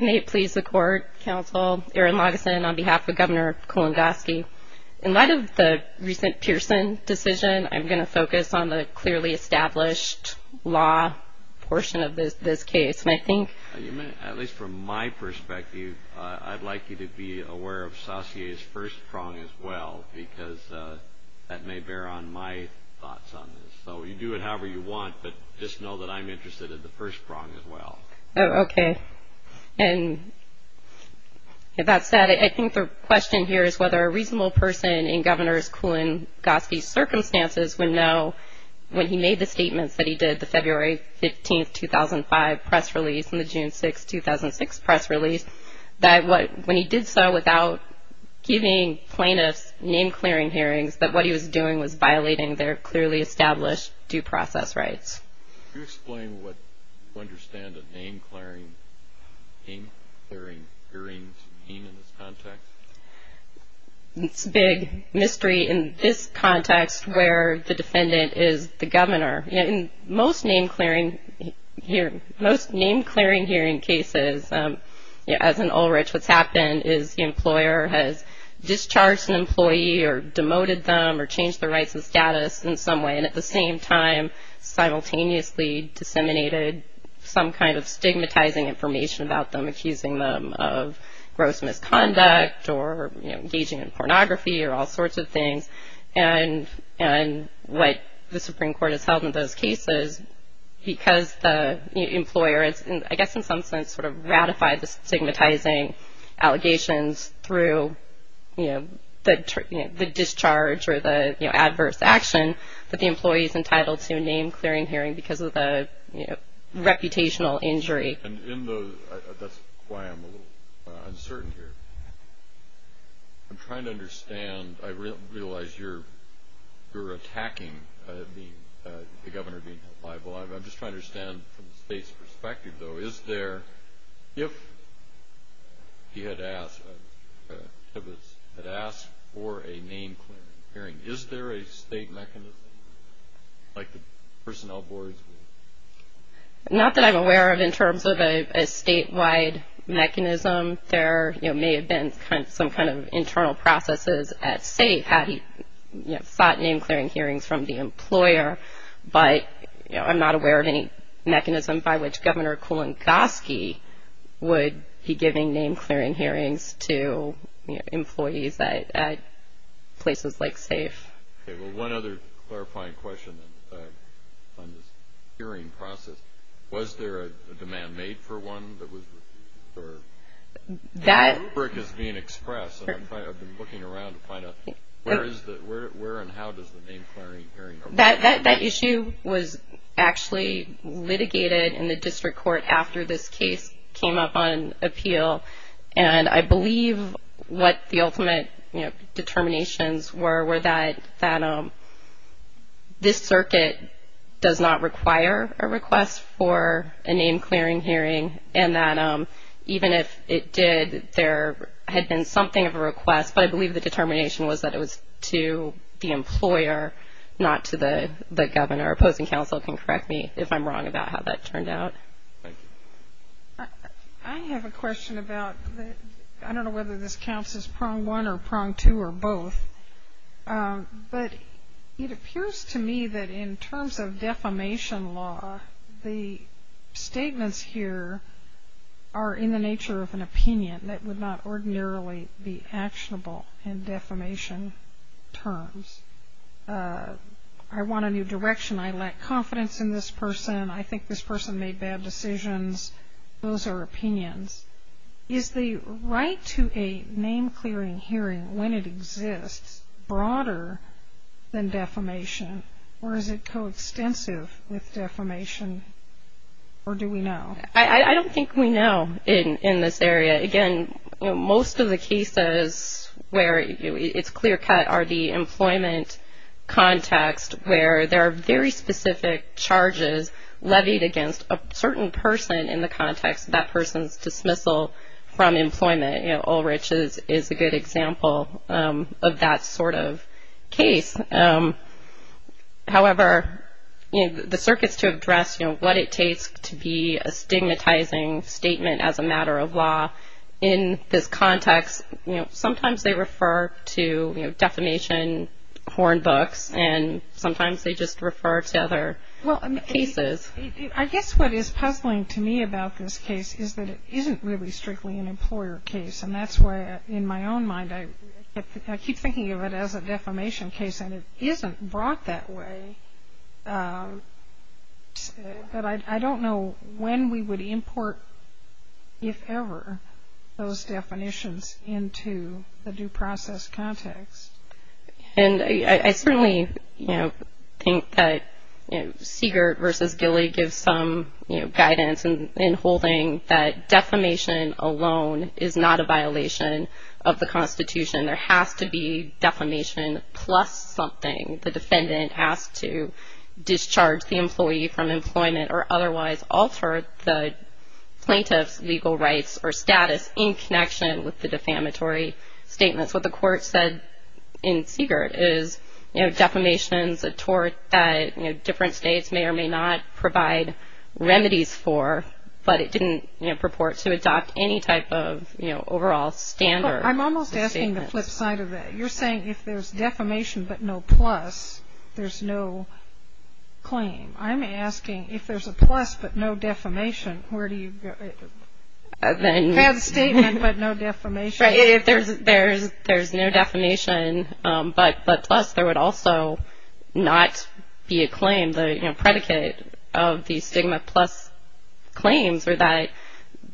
May it please the court, counsel, Aaron Lageson on behalf of Governor Kulongoski. In light of the recent Pearson decision, I'm going to focus on the clearly established law portion of this case. At least from my perspective, I'd like you to be aware of Saussure's first prong as well, because that may bear on my thoughts on this. So you do it however you want, but just know that I'm interested in the first prong as well. Okay. And with that said, I think the question here is whether a reasonable person in Governor Kulongoski's circumstances would know when he made the statements that he did, the February 15, 2005 press release and the June 6, 2006 press release, that when he did so without giving plaintiffs name-clearing hearings, that what he was doing was violating their clearly established due process rights. Can you explain what you understand a name-clearing hearing to mean in this context? It's a big mystery in this context where the defendant is the governor. In most name-clearing hearing cases, as in Ulrich, what's happened is the employer has discharged an employee or demoted them or changed their rights and status in some way, and at the same time simultaneously disseminated some kind of stigmatizing information about them, accusing them of gross misconduct or engaging in pornography or all sorts of things. And what the Supreme Court has held in those cases, because the employer has, I guess in some sense, ratified the stigmatizing allegations through the discharge or the adverse action, that the employee is entitled to a name-clearing hearing because of the reputational injury. That's why I'm a little uncertain here. I'm trying to understand. I realize you're attacking the governor being held liable. I'm just trying to understand from the state's perspective, though. If he had asked for a name-clearing hearing, is there a state mechanism like the personnel boards? Not that I'm aware of in terms of a statewide mechanism. There may have been some kind of internal processes at state. He sought name-clearing hearings from the employer, but I'm not aware of any mechanism by which Governor Kulongoski would be giving name-clearing hearings to employees at places like SAFE. Okay, well, one other clarifying question on this hearing process. Was there a demand made for one? The rubric is being expressed. I've been looking around to find out where and how does the name-clearing hearing arise? That issue was actually litigated in the district court after this case came up on appeal, and I believe what the ultimate determinations were were that this circuit does not require a request for a name-clearing hearing and that even if it did, there had been something of a request, but I believe the determination was that it was to the employer, not to the governor. Opposing counsel can correct me if I'm wrong about how that turned out. I have a question about, I don't know whether this counts as prong one or prong two or both, but it appears to me that in terms of defamation law, the statements here are in the nature of an opinion that would not ordinarily be actionable in defamation terms. I want a new direction. I lack confidence in this person. I think this person made bad decisions. Those are opinions. Is the right to a name-clearing hearing when it exists broader than defamation, or is it coextensive with defamation, or do we know? I don't think we know in this area. Again, most of the cases where it's clear-cut are the employment context where there are very specific charges levied against a certain person in the context of that person's dismissal from employment. Ulrich is a good example of that sort of case. However, the circuits to address what it takes to be a stigmatizing statement as a matter of law in this context, sometimes they refer to defamation horn books, and sometimes they just refer to other cases. I guess what is puzzling to me about this case is that it isn't really strictly an employer case, and that's why in my own mind I keep thinking of it as a defamation case, and it isn't brought that way, but I don't know when we would import, if ever, those definitions into the due process context. And I certainly think that Siegert versus Gilley gives some guidance in holding that defamation alone is not a violation of the Constitution. There has to be defamation plus something. The defendant has to discharge the employee from employment or otherwise alter the plaintiff's legal rights or status in connection with the defamatory statements. What the court said in Siegert is defamation is a tort that different states may or may not provide remedies for, but it didn't purport to adopt any type of overall standard. I'm almost asking the flip side of that. You're saying if there's defamation but no plus, there's no claim. I'm asking if there's a plus but no defamation, where do you go? If you have a statement but no defamation. If there's no defamation but plus, there would also not be a claim. And the predicate of the stigma plus claims are that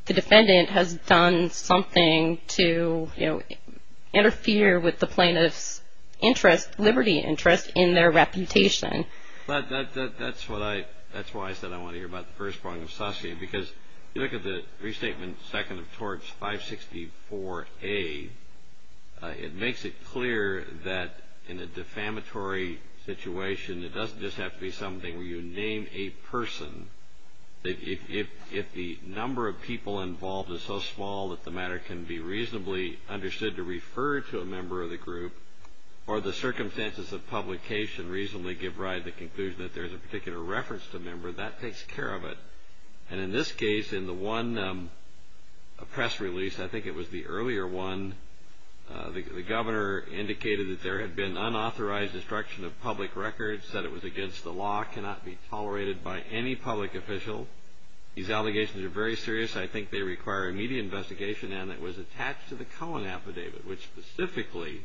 the defendant has done something to interfere with the plaintiff's interest, liberty interest, in their reputation. That's why I said I want to hear about the first part of Saske. Because if you look at the restatement second of torts 564A, it makes it clear that in a defamatory situation, it doesn't just have to be something where you name a person. If the number of people involved is so small that the matter can be reasonably understood to refer to a member of the group or the circumstances of publication reasonably give rise to the conclusion that there's a particular reference to a member, that takes care of it. And in this case, in the one press release, I think it was the earlier one, the governor indicated that there had been unauthorized destruction of public records, said it was against the law, cannot be tolerated by any public official. These allegations are very serious. I think they require immediate investigation. And it was attached to the Cohen affidavit, which specifically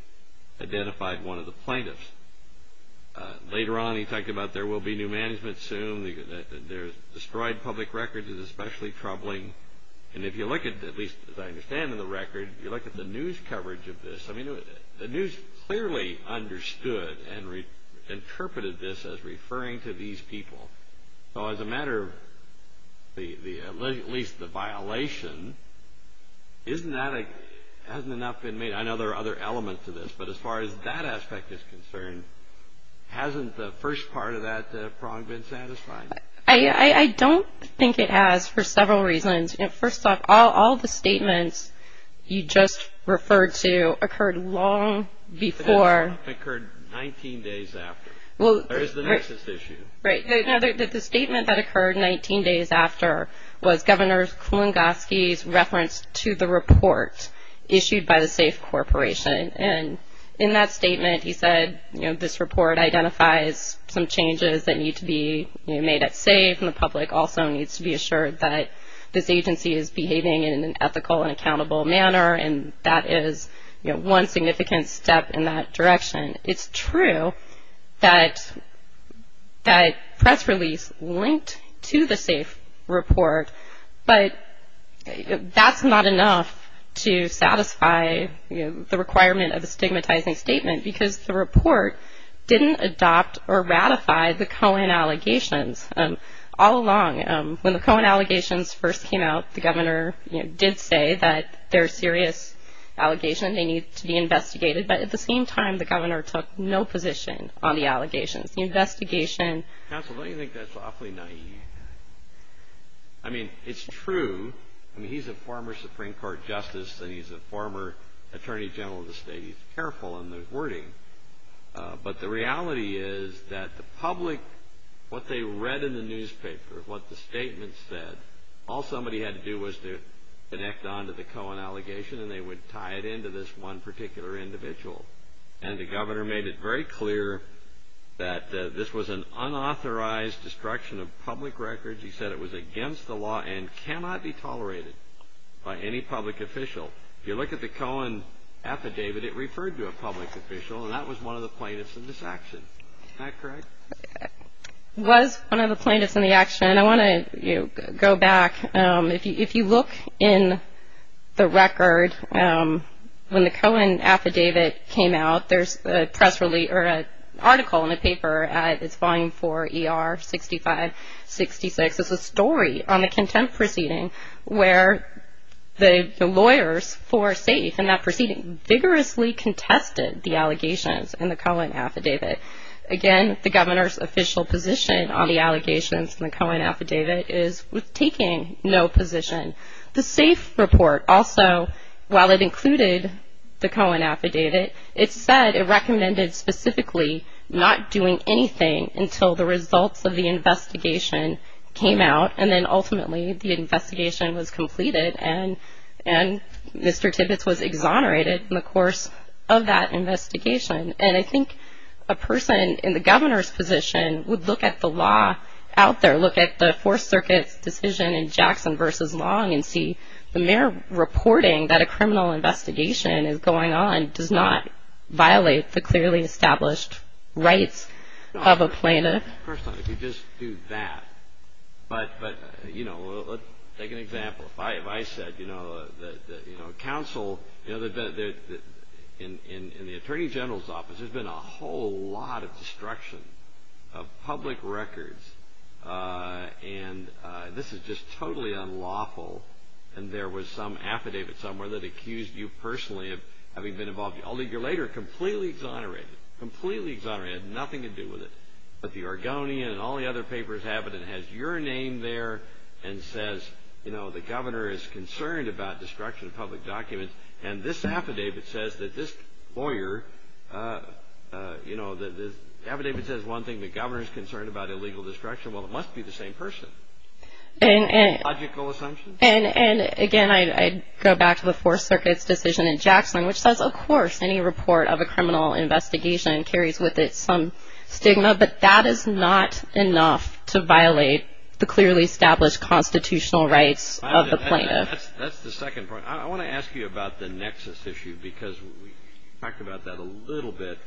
identified one of the plaintiffs. Later on, he talked about there will be new management soon. Destroyed public records is especially troubling. And if you look at, at least as I understand in the record, if you look at the news coverage of this, the news clearly understood and interpreted this as referring to these people. So as a matter of at least the violation, hasn't enough been made? I know there are other elements to this, but as far as that aspect is concerned, hasn't the first part of that prong been satisfied? I don't think it has for several reasons. First off, all the statements you just referred to occurred long before. It occurred 19 days after. There is the nexus issue. Right. The statement that occurred 19 days after was Governor Kulongoski's reference to the report issued by the SAFE Corporation. And in that statement, he said, you know, this report identifies some changes that need to be made at SAFE, and the public also needs to be assured that this agency is behaving in an ethical and accountable manner, and that is, you know, one significant step in that direction. It's true that press release linked to the SAFE report, but that's not enough to satisfy the requirement of a stigmatizing statement, because the report didn't adopt or ratify the Cohen allegations. All along, when the Cohen allegations first came out, the governor did say that they're serious allegations and they need to be investigated, but at the same time, the governor took no position on the allegations. The investigation… Counsel, don't you think that's awfully naive? I mean, it's true. I mean, he's a former Supreme Court justice, and he's a former Attorney General of the state. He's careful in his wording. But the reality is that the public, what they read in the newspaper, what the statements said, all somebody had to do was to connect on to the Cohen allegation, and they would tie it into this one particular individual. And the governor made it very clear that this was an unauthorized destruction of public records. He said it was against the law and cannot be tolerated by any public official. If you look at the Cohen affidavit, it referred to a public official, and that was one of the plaintiffs in this action. Is that correct? It was one of the plaintiffs in the action. I want to go back. If you look in the record, when the Cohen affidavit came out, there's a press release or an article in the paper at its volume 4 ER 6566. It's a story on the contempt proceeding where the lawyers for SAFE in that proceeding vigorously contested the allegations in the Cohen affidavit. Again, the governor's official position on the allegations in the Cohen affidavit is with taking no position. The SAFE report also, while it included the Cohen affidavit, it said it recommended specifically not doing anything until the results of the investigation came out, and then ultimately the investigation was completed and Mr. Tibbetts was exonerated in the course of that investigation. And I think a person in the governor's position would look at the law out there, look at the Fourth Circuit's decision in Jackson v. Long and see the mayor reporting that a criminal investigation is going on does not violate the clearly established rights of a plaintiff. No, of course not. If you just do that. But, you know, let's take an example. There's been a whole lot of destruction of public records. And this is just totally unlawful. And there was some affidavit somewhere that accused you personally of having been involved. A year later, completely exonerated. Completely exonerated. It had nothing to do with it. But the Argonian and all the other papers have it. It has your name there and says, you know, the governor is concerned about destruction of public documents. And this affidavit says that this lawyer, you know, the affidavit says one thing, the governor is concerned about illegal destruction. Well, it must be the same person. And again, I go back to the Fourth Circuit's decision in Jackson, which says, of course, any report of a criminal investigation carries with it some stigma. But that is not enough to violate the clearly established constitutional rights of the plaintiff. That's the second point. I want to ask you about the nexus issue because we talked about that a little bit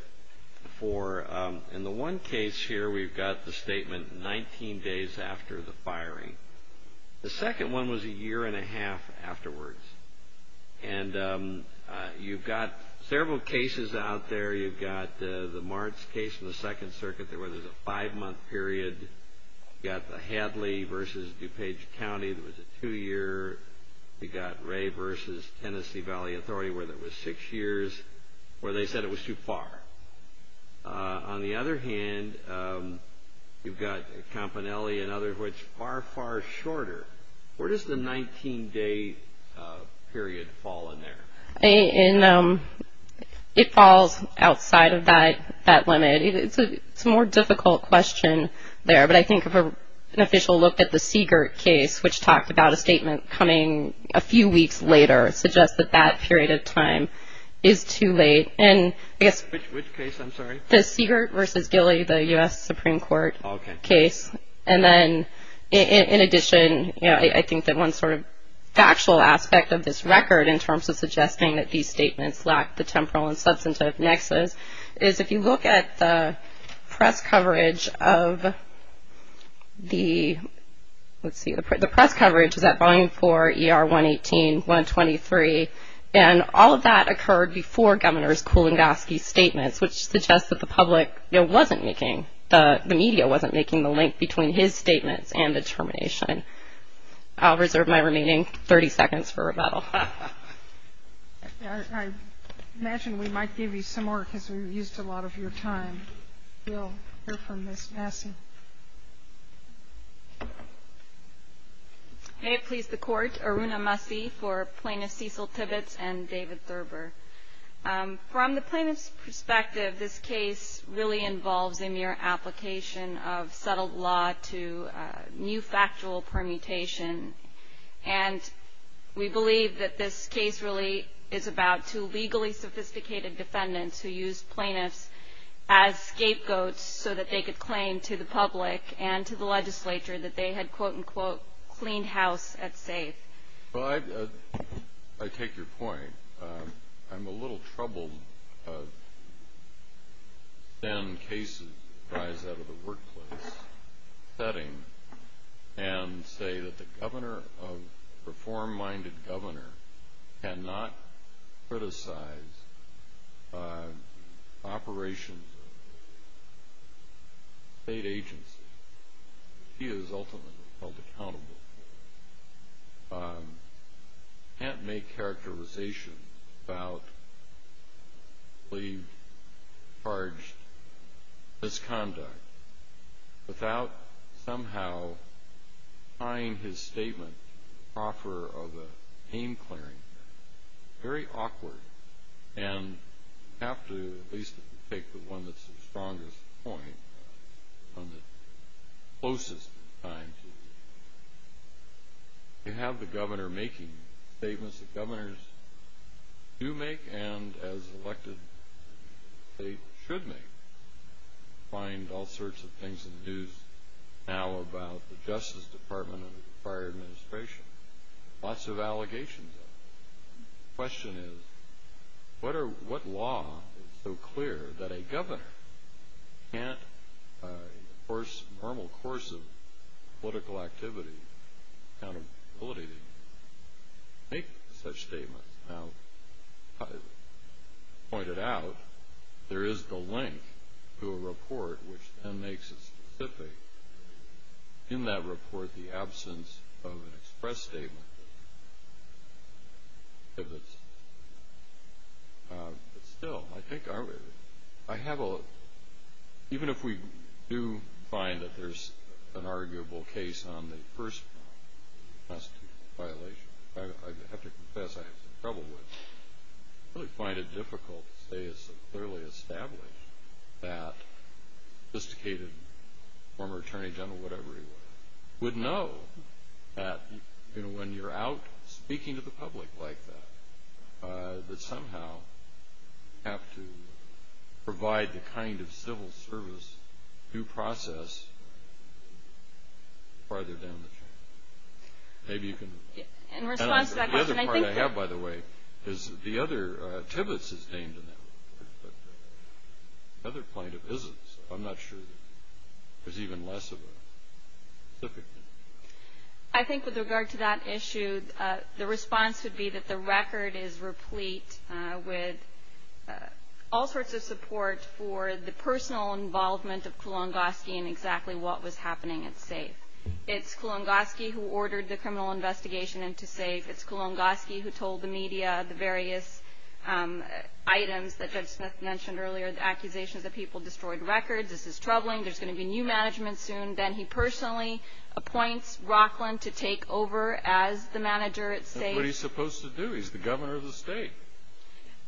before. In the one case here, we've got the statement 19 days after the firing. The second one was a year and a half afterwards. And you've got several cases out there. You've got the Martz case in the Second Circuit where there's a five-month period. You've got the Hadley v. DuPage County. There was a two-year. You've got Ray v. Tennessee Valley Authority where there was six years where they said it was too far. On the other hand, you've got Campanelli and others which are far, far shorter. Where does the 19-day period fall in there? It falls outside of that limit. It's a more difficult question there. But I think an official look at the Siegert case, which talked about a statement coming a few weeks later, suggests that that period of time is too late. Which case, I'm sorry? The Siegert v. Gilley, the U.S. Supreme Court case. Okay. And then, in addition, I think that one sort of factual aspect of this record in terms of suggesting that these statements lack the temporal and substantive nexus is if you look at the press coverage of the, let's see, the press coverage. Is that Volume 4, ER 118, 123? And all of that occurred before Governor Kuligowski's statements, which suggests that the public wasn't making, the media wasn't making the link between his statements and the termination. I'll reserve my remaining 30 seconds for rebuttal. I imagine we might give you some more because we've used a lot of your time. We'll hear from Ms. Massey. May it please the Court. Aruna Massey for Plaintiffs Cecil Tibbetts and David Thurber. From the plaintiff's perspective, this case really involves a mere application of settled law to new factual permutation. And we believe that this case really is about two legally sophisticated defendants who used plaintiffs as scapegoats so that they could claim to the public and to the legislature that they had, quote, unquote, cleaned house at safe. Well, I take your point. I'm a little troubled of cases that arise out of the workplace setting and say that the reform-minded governor cannot criticize operations of a state agency. He is ultimately held accountable for it. He can't make characterization about cleaved, charged misconduct without somehow tying his statement to the proffer of a pain clearing. Very awkward. And you have to at least take the one that's the strongest point on the closest time. You have the governor making statements that governors do make and, as elected, they should make. You find all sorts of things in the news now about the Justice Department and the prior administration, lots of allegations of it. The question is, what law is so clear that a governor can't, in the normal course of political activity, accountability to make such statements? Now, to point it out, there is the link to a report which then makes it specific. In that report, the absence of an express statement exhibits. But still, even if we do find that there's an arguable case on the first test violation, I have to confess I have some trouble with it. I really find it difficult to say it's clearly established that a sophisticated former attorney general, whatever he was, would know that when you're out speaking to the public like that, that somehow you have to provide the kind of civil service due process farther down the chain. Maybe you can... In response to that question, I think... The other part I have, by the way, is the other, Tibbets is named in that report, but the other plaintiff isn't, so I'm not sure there's even less of a... I think with regard to that issue, the response would be that the record is replete with all sorts of support for the personal involvement of Kulongoski in exactly what was happening at SAFE. It's Kulongoski who ordered the criminal investigation into SAFE. It's Kulongoski who told the media the various items that Judge Smith mentioned earlier, the accusations that people destroyed records, this is troubling, there's going to be new management soon. Then he personally appoints Rockland to take over as the manager at SAFE. That's what he's supposed to do. He's the governor of the state.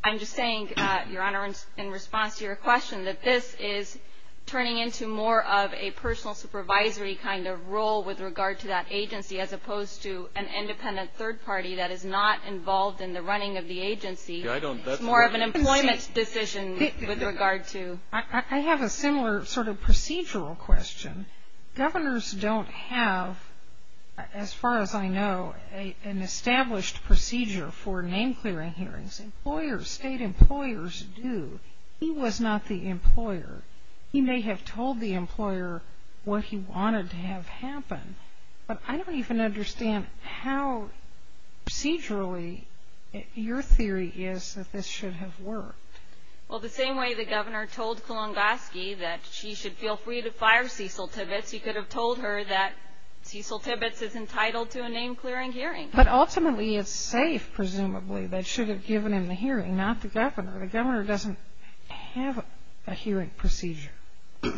I'm just saying, Your Honor, in response to your question, that this is turning into more of a personal supervisory kind of role with regard to that agency as opposed to an independent third party that is not involved in the running of the agency. It's more of an employment decision with regard to... I have a similar sort of procedural question. Governors don't have, as far as I know, an established procedure for name-clearing hearings. Employers, state employers do. He was not the employer. He may have told the employer what he wanted to have happen, but I don't even understand how procedurally your theory is that this should have worked. Well, the same way the governor told Kulongoski that she should feel free to fire Cecil Tibbetts, he could have told her that Cecil Tibbetts is entitled to a name-clearing hearing. But ultimately it's SAFE, presumably, that should have given him the hearing, not the governor. The governor doesn't have a hearing procedure.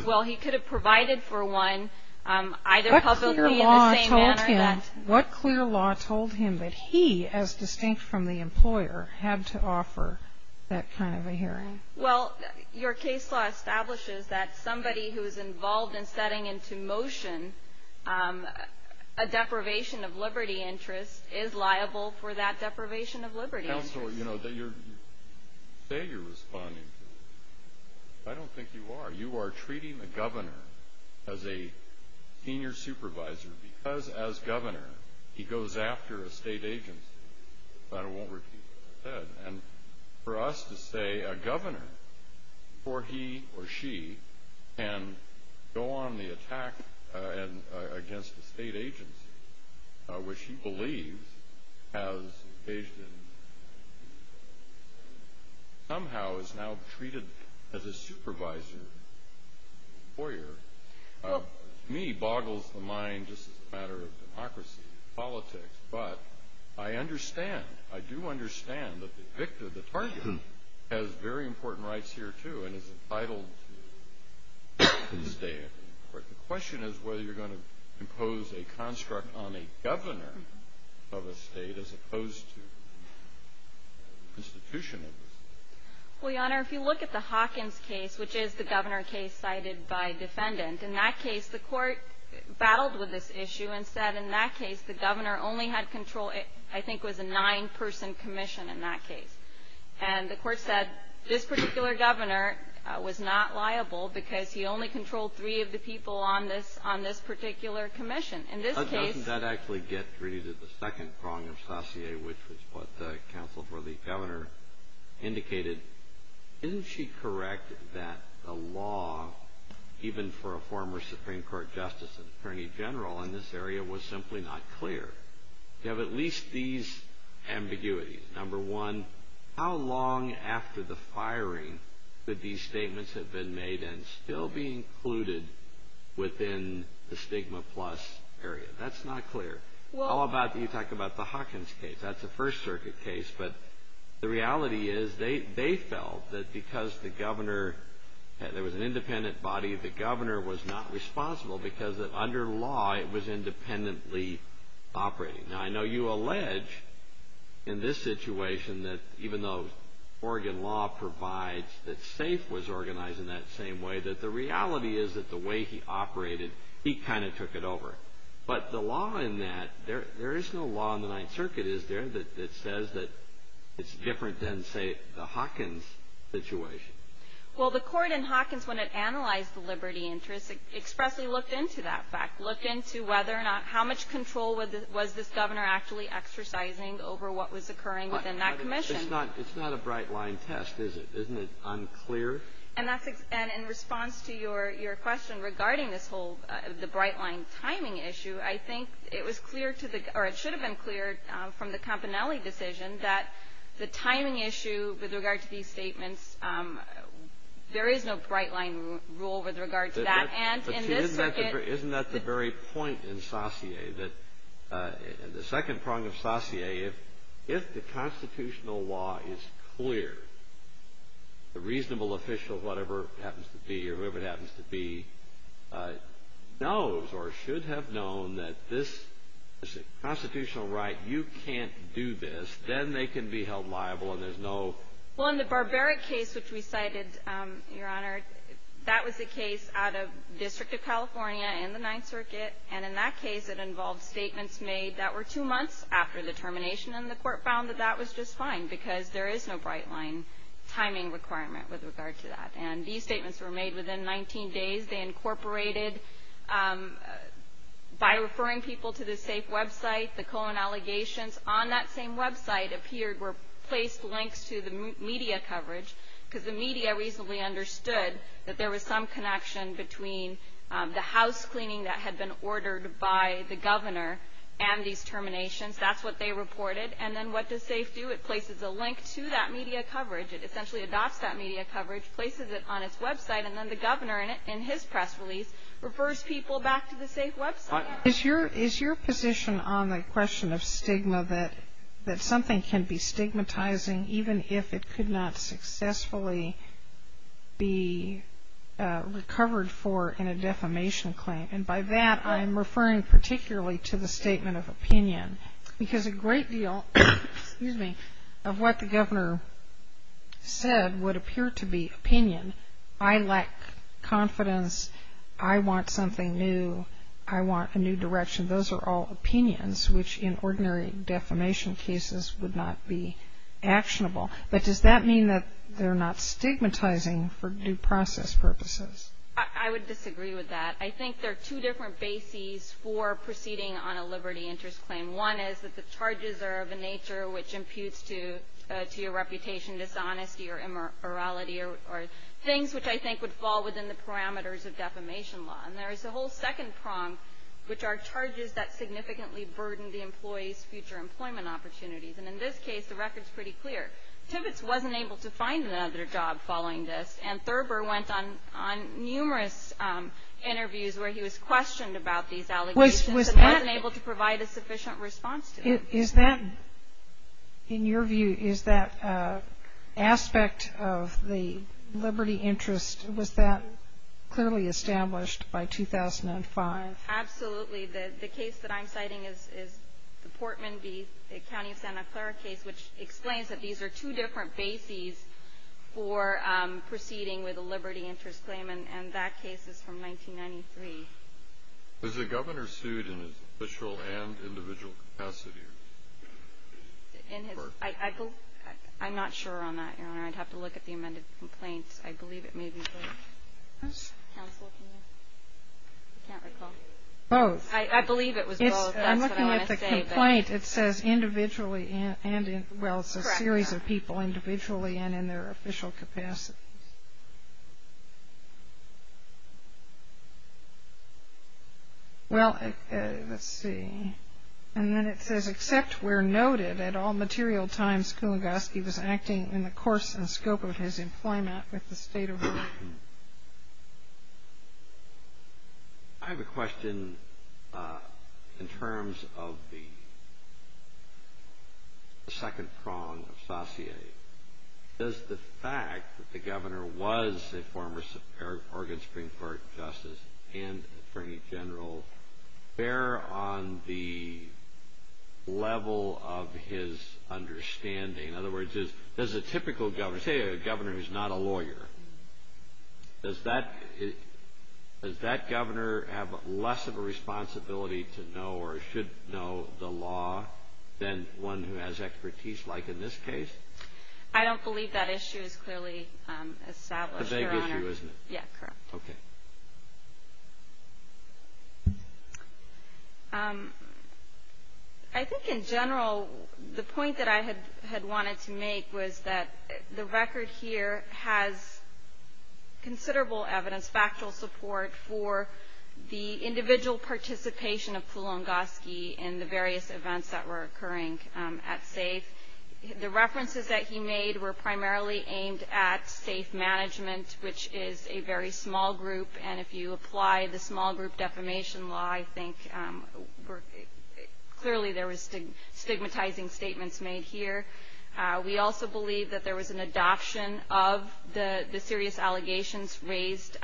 Well, he could have provided for one, either publicly in the same manner that... What clear law told him that he, as distinct from the employer, had to offer that kind of a hearing? Well, your case law establishes that somebody who is involved in setting into motion a deprivation of liberty interest is liable for that deprivation of liberty interest. Counselor, you know, you say you're responding to it. I don't think you are. You are treating the governor as a senior supervisor because, as governor, he goes after a state agency. But I won't repeat what I said. And for us to say a governor, before he or she can go on the attack against a state agency, which he believes has engaged in somehow is now treated as a supervisor employer, to me boggles the mind just as a matter of democracy, politics. But I understand, I do understand that the victim, the target, has very important rights here, too, and is entitled to stay. The question is whether you're going to impose a construct on a governor of a state as opposed to an institution of a state. Well, Your Honor, if you look at the Hawkins case, which is the governor case cited by defendant, in that case the court battled with this issue and said in that case the governor only had control, I think it was a nine-person commission in that case. And the court said this particular governor was not liable because he only controlled three of the people on this particular commission. In this case — Doesn't that actually get rid of the second prong of Saussure, which was what the counsel for the governor indicated? Isn't she correct that the law, even for a former Supreme Court justice and attorney general in this area, was simply not clear? You have at least these ambiguities. Number one, how long after the firing could these statements have been made and still be included within the stigma plus area? That's not clear. How about you talk about the Hawkins case? That's a First Circuit case. But the reality is they felt that because the governor, there was an independent body, the governor was not responsible because under law it was independently operating. Now, I know you allege in this situation that even though Oregon law provides that SAFE was organized in that same way, that the reality is that the way he operated, he kind of took it over. But the law in that, there is no law in the Ninth Circuit, is there, that says that it's different than, say, the Hawkins situation? Well, the court in Hawkins, when it analyzed the liberty interest, expressly looked into that fact, looked into whether or not, how much control was this governor actually exercising over what was occurring within that commission? It's not a bright-line test, is it? Isn't it unclear? And in response to your question regarding this whole, the bright-line timing issue, I think it was clear to the, or it should have been clear from the Campanelli decision that the timing issue with regard to these statements, there is no bright-line rule with regard to that. Isn't that the very point in Saussure, that in the second prong of Saussure, if the constitutional law is clear, the reasonable official, whatever it happens to be, or whoever it happens to be, knows or should have known that this is a constitutional right, you can't do this, then they can be held liable and there's no. Well, in the Barbaric case which we cited, Your Honor, that was a case out of District of California in the Ninth Circuit, and in that case it involved statements made that were two months after the termination, and the court found that that was just fine because there is no bright-line timing requirement with regard to that. And these statements were made within 19 days. They incorporated, by referring people to the SAFE website, the Cohen allegations on that same website appeared were placed links to the media coverage, because the media reasonably understood that there was some connection between the house cleaning that had been ordered by the governor and these terminations. That's what they reported. And then what does SAFE do? It places a link to that media coverage. It essentially adopts that media coverage, places it on its website, and then the governor in his press release refers people back to the SAFE website. Is your position on the question of stigma that something can be stigmatizing, even if it could not successfully be recovered for in a defamation claim? And by that I'm referring particularly to the statement of opinion, because a great deal of what the governor said would appear to be opinion. I lack confidence. I want something new. I want a new direction. Those are all opinions, which in ordinary defamation cases would not be actionable. But does that mean that they're not stigmatizing for due process purposes? I would disagree with that. I think there are two different bases for proceeding on a liberty interest claim. One is that the charges are of a nature which imputes to your reputation dishonesty or immorality or things which I think would fall within the parameters of defamation law. And there is a whole second prong, which are charges that significantly burden the employee's future employment opportunities. And in this case, the record is pretty clear. Tibbets wasn't able to find another job following this, and Thurber went on numerous interviews where he was questioned about these allegations and wasn't able to provide a sufficient response to them. Is that, in your view, is that aspect of the liberty interest, was that clearly established by 2005? Absolutely. The case that I'm citing is the Portman v. County of Santa Clara case, which explains that these are two different bases for proceeding with a liberty interest claim, and that case is from 1993. Was the governor sued in his official and individual capacity? I'm not sure on that, Your Honor. I'd have to look at the amended complaints. I believe it may be both. Counsel, can you? I can't recall. Both. I believe it was both. That's what I want to say. I'm looking at the complaint. It says individually and in, well, it's a series of people, individually and in their official capacities. Well, let's see. And then it says, except where noted, at all material times, Kuligowski was acting in the course and scope of his employment with the state of Washington. I have a question in terms of the second prong of sacier. Does the fact that the governor was a former Oregon Supreme Court justice and attorney general bear on the level of his understanding? In other words, does a typical governor, say a governor who's not a lawyer, does that governor have less of a responsibility to know or should know the law than one who has expertise, like in this case? I don't believe that issue is clearly established, Your Honor. It's a big issue, isn't it? Yeah, correct. Okay. I think in general, the point that I had wanted to make was that the record here has considerable evidence, factual support for the individual participation of Kuligowski in the various events that were occurring at SAFE. The references that he made were primarily aimed at SAFE management, which is a very small group, and if you apply the small group defamation law, I think clearly there was stigmatizing statements made here. We also believe that there was an adoption of the serious allegations raised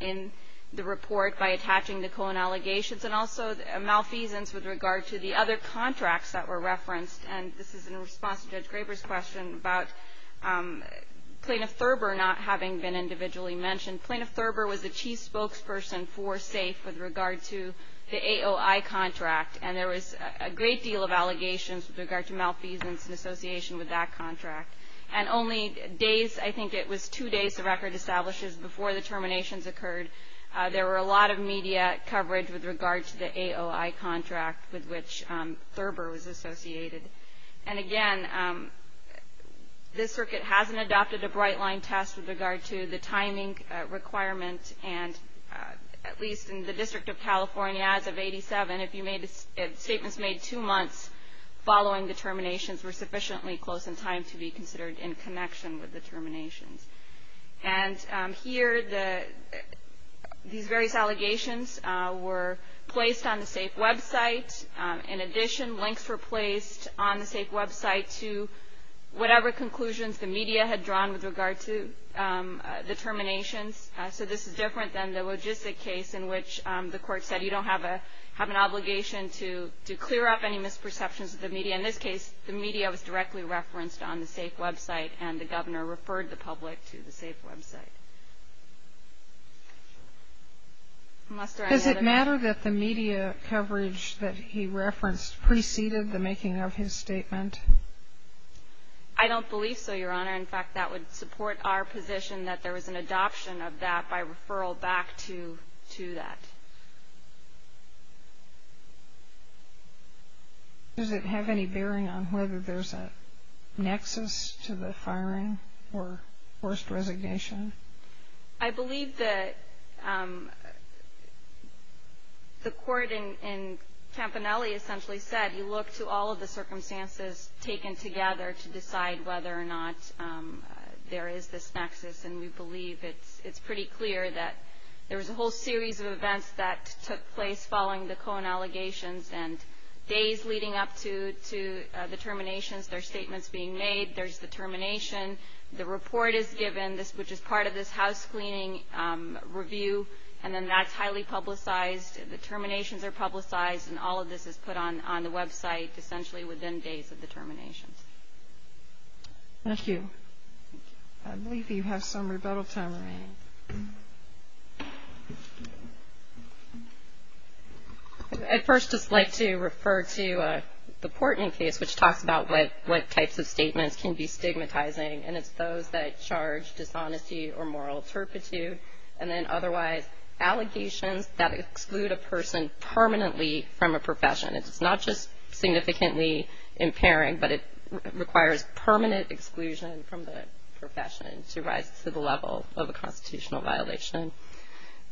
in the report by attaching the Cohen allegations, and also malfeasance with regard to the other contracts that were referenced. And this is in response to Judge Graber's question about Plaintiff Thurber not having been individually mentioned. Plaintiff Thurber was the chief spokesperson for SAFE with regard to the AOI contract, and there was a great deal of allegations with regard to malfeasance in association with that contract. And only days, I think it was two days, the record establishes before the terminations occurred, there were a lot of media coverage with regard to the AOI contract with which Thurber was associated. And, again, this circuit hasn't adopted a bright-line test with regard to the timing requirement, and at least in the District of California, as of 87, if statements made two months following the terminations were sufficiently close in time to be considered in connection with the terminations. And here, these various allegations were placed on the SAFE website. In addition, links were placed on the SAFE website to whatever conclusions the media had drawn with regard to the terminations. So this is different than the logistic case in which the court said, you don't have an obligation to clear up any misperceptions of the media. In this case, the media was directly referenced on the SAFE website, and the Governor referred the public to the SAFE website. Does it matter that the media coverage that he referenced preceded the making of his statement? I don't believe so, Your Honor. In fact, that would support our position that there was an adoption of that by referral back to that. Does it have any bearing on whether there's a nexus to the firing or forced resignation? I believe that the court in Campanelli essentially said, you look to all of the circumstances taken together to decide whether or not there is this nexus, and we believe it's pretty clear that there was a whole series of events that took place following the Cohen allegations. And days leading up to the terminations, there are statements being made. There's the termination. The report is given, which is part of this housecleaning review, and then that's highly publicized. The terminations are publicized, and all of this is put on the website essentially within days of the terminations. Thank you. I believe you have some rebuttal time remaining. I'd first just like to refer to the Portman case, which talks about what types of statements can be stigmatizing, and it's those that charge dishonesty or moral turpitude, and then otherwise allegations that exclude a person permanently from a profession. It's not just significantly impairing, but it requires permanent exclusion from the profession to rise to the level of a constitutional violation.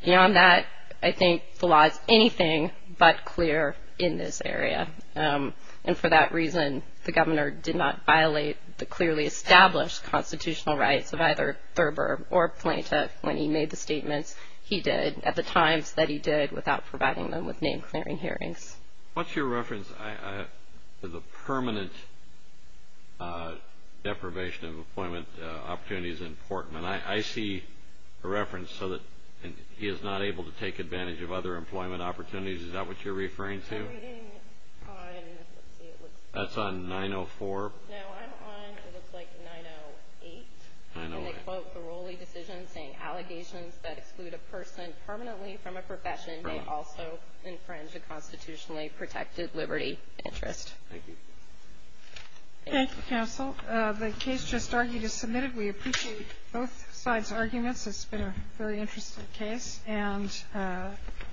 Beyond that, I think the law is anything but clear in this area, and for that reason the governor did not violate the clearly established constitutional rights of either Thurber or Plaintiff when he made the statements he did at the times that he did without providing them with name-clearing hearings. What's your reference to the permanent deprivation of employment opportunities in Portman? I see a reference so that he is not able to take advantage of other employment opportunities. Is that what you're referring to? I'm reading on, let's see. That's on 904. No, I'm on, it looks like, 908. 908. I quote the Rowley decision saying allegations that exclude a person permanently from a profession may also infringe a constitutionally protected liberty interest. Thank you. Thank you, counsel. The case just argued is submitted. We appreciate both sides' arguments. It's been a very interesting case, and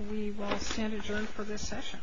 we will stand adjourned for this session.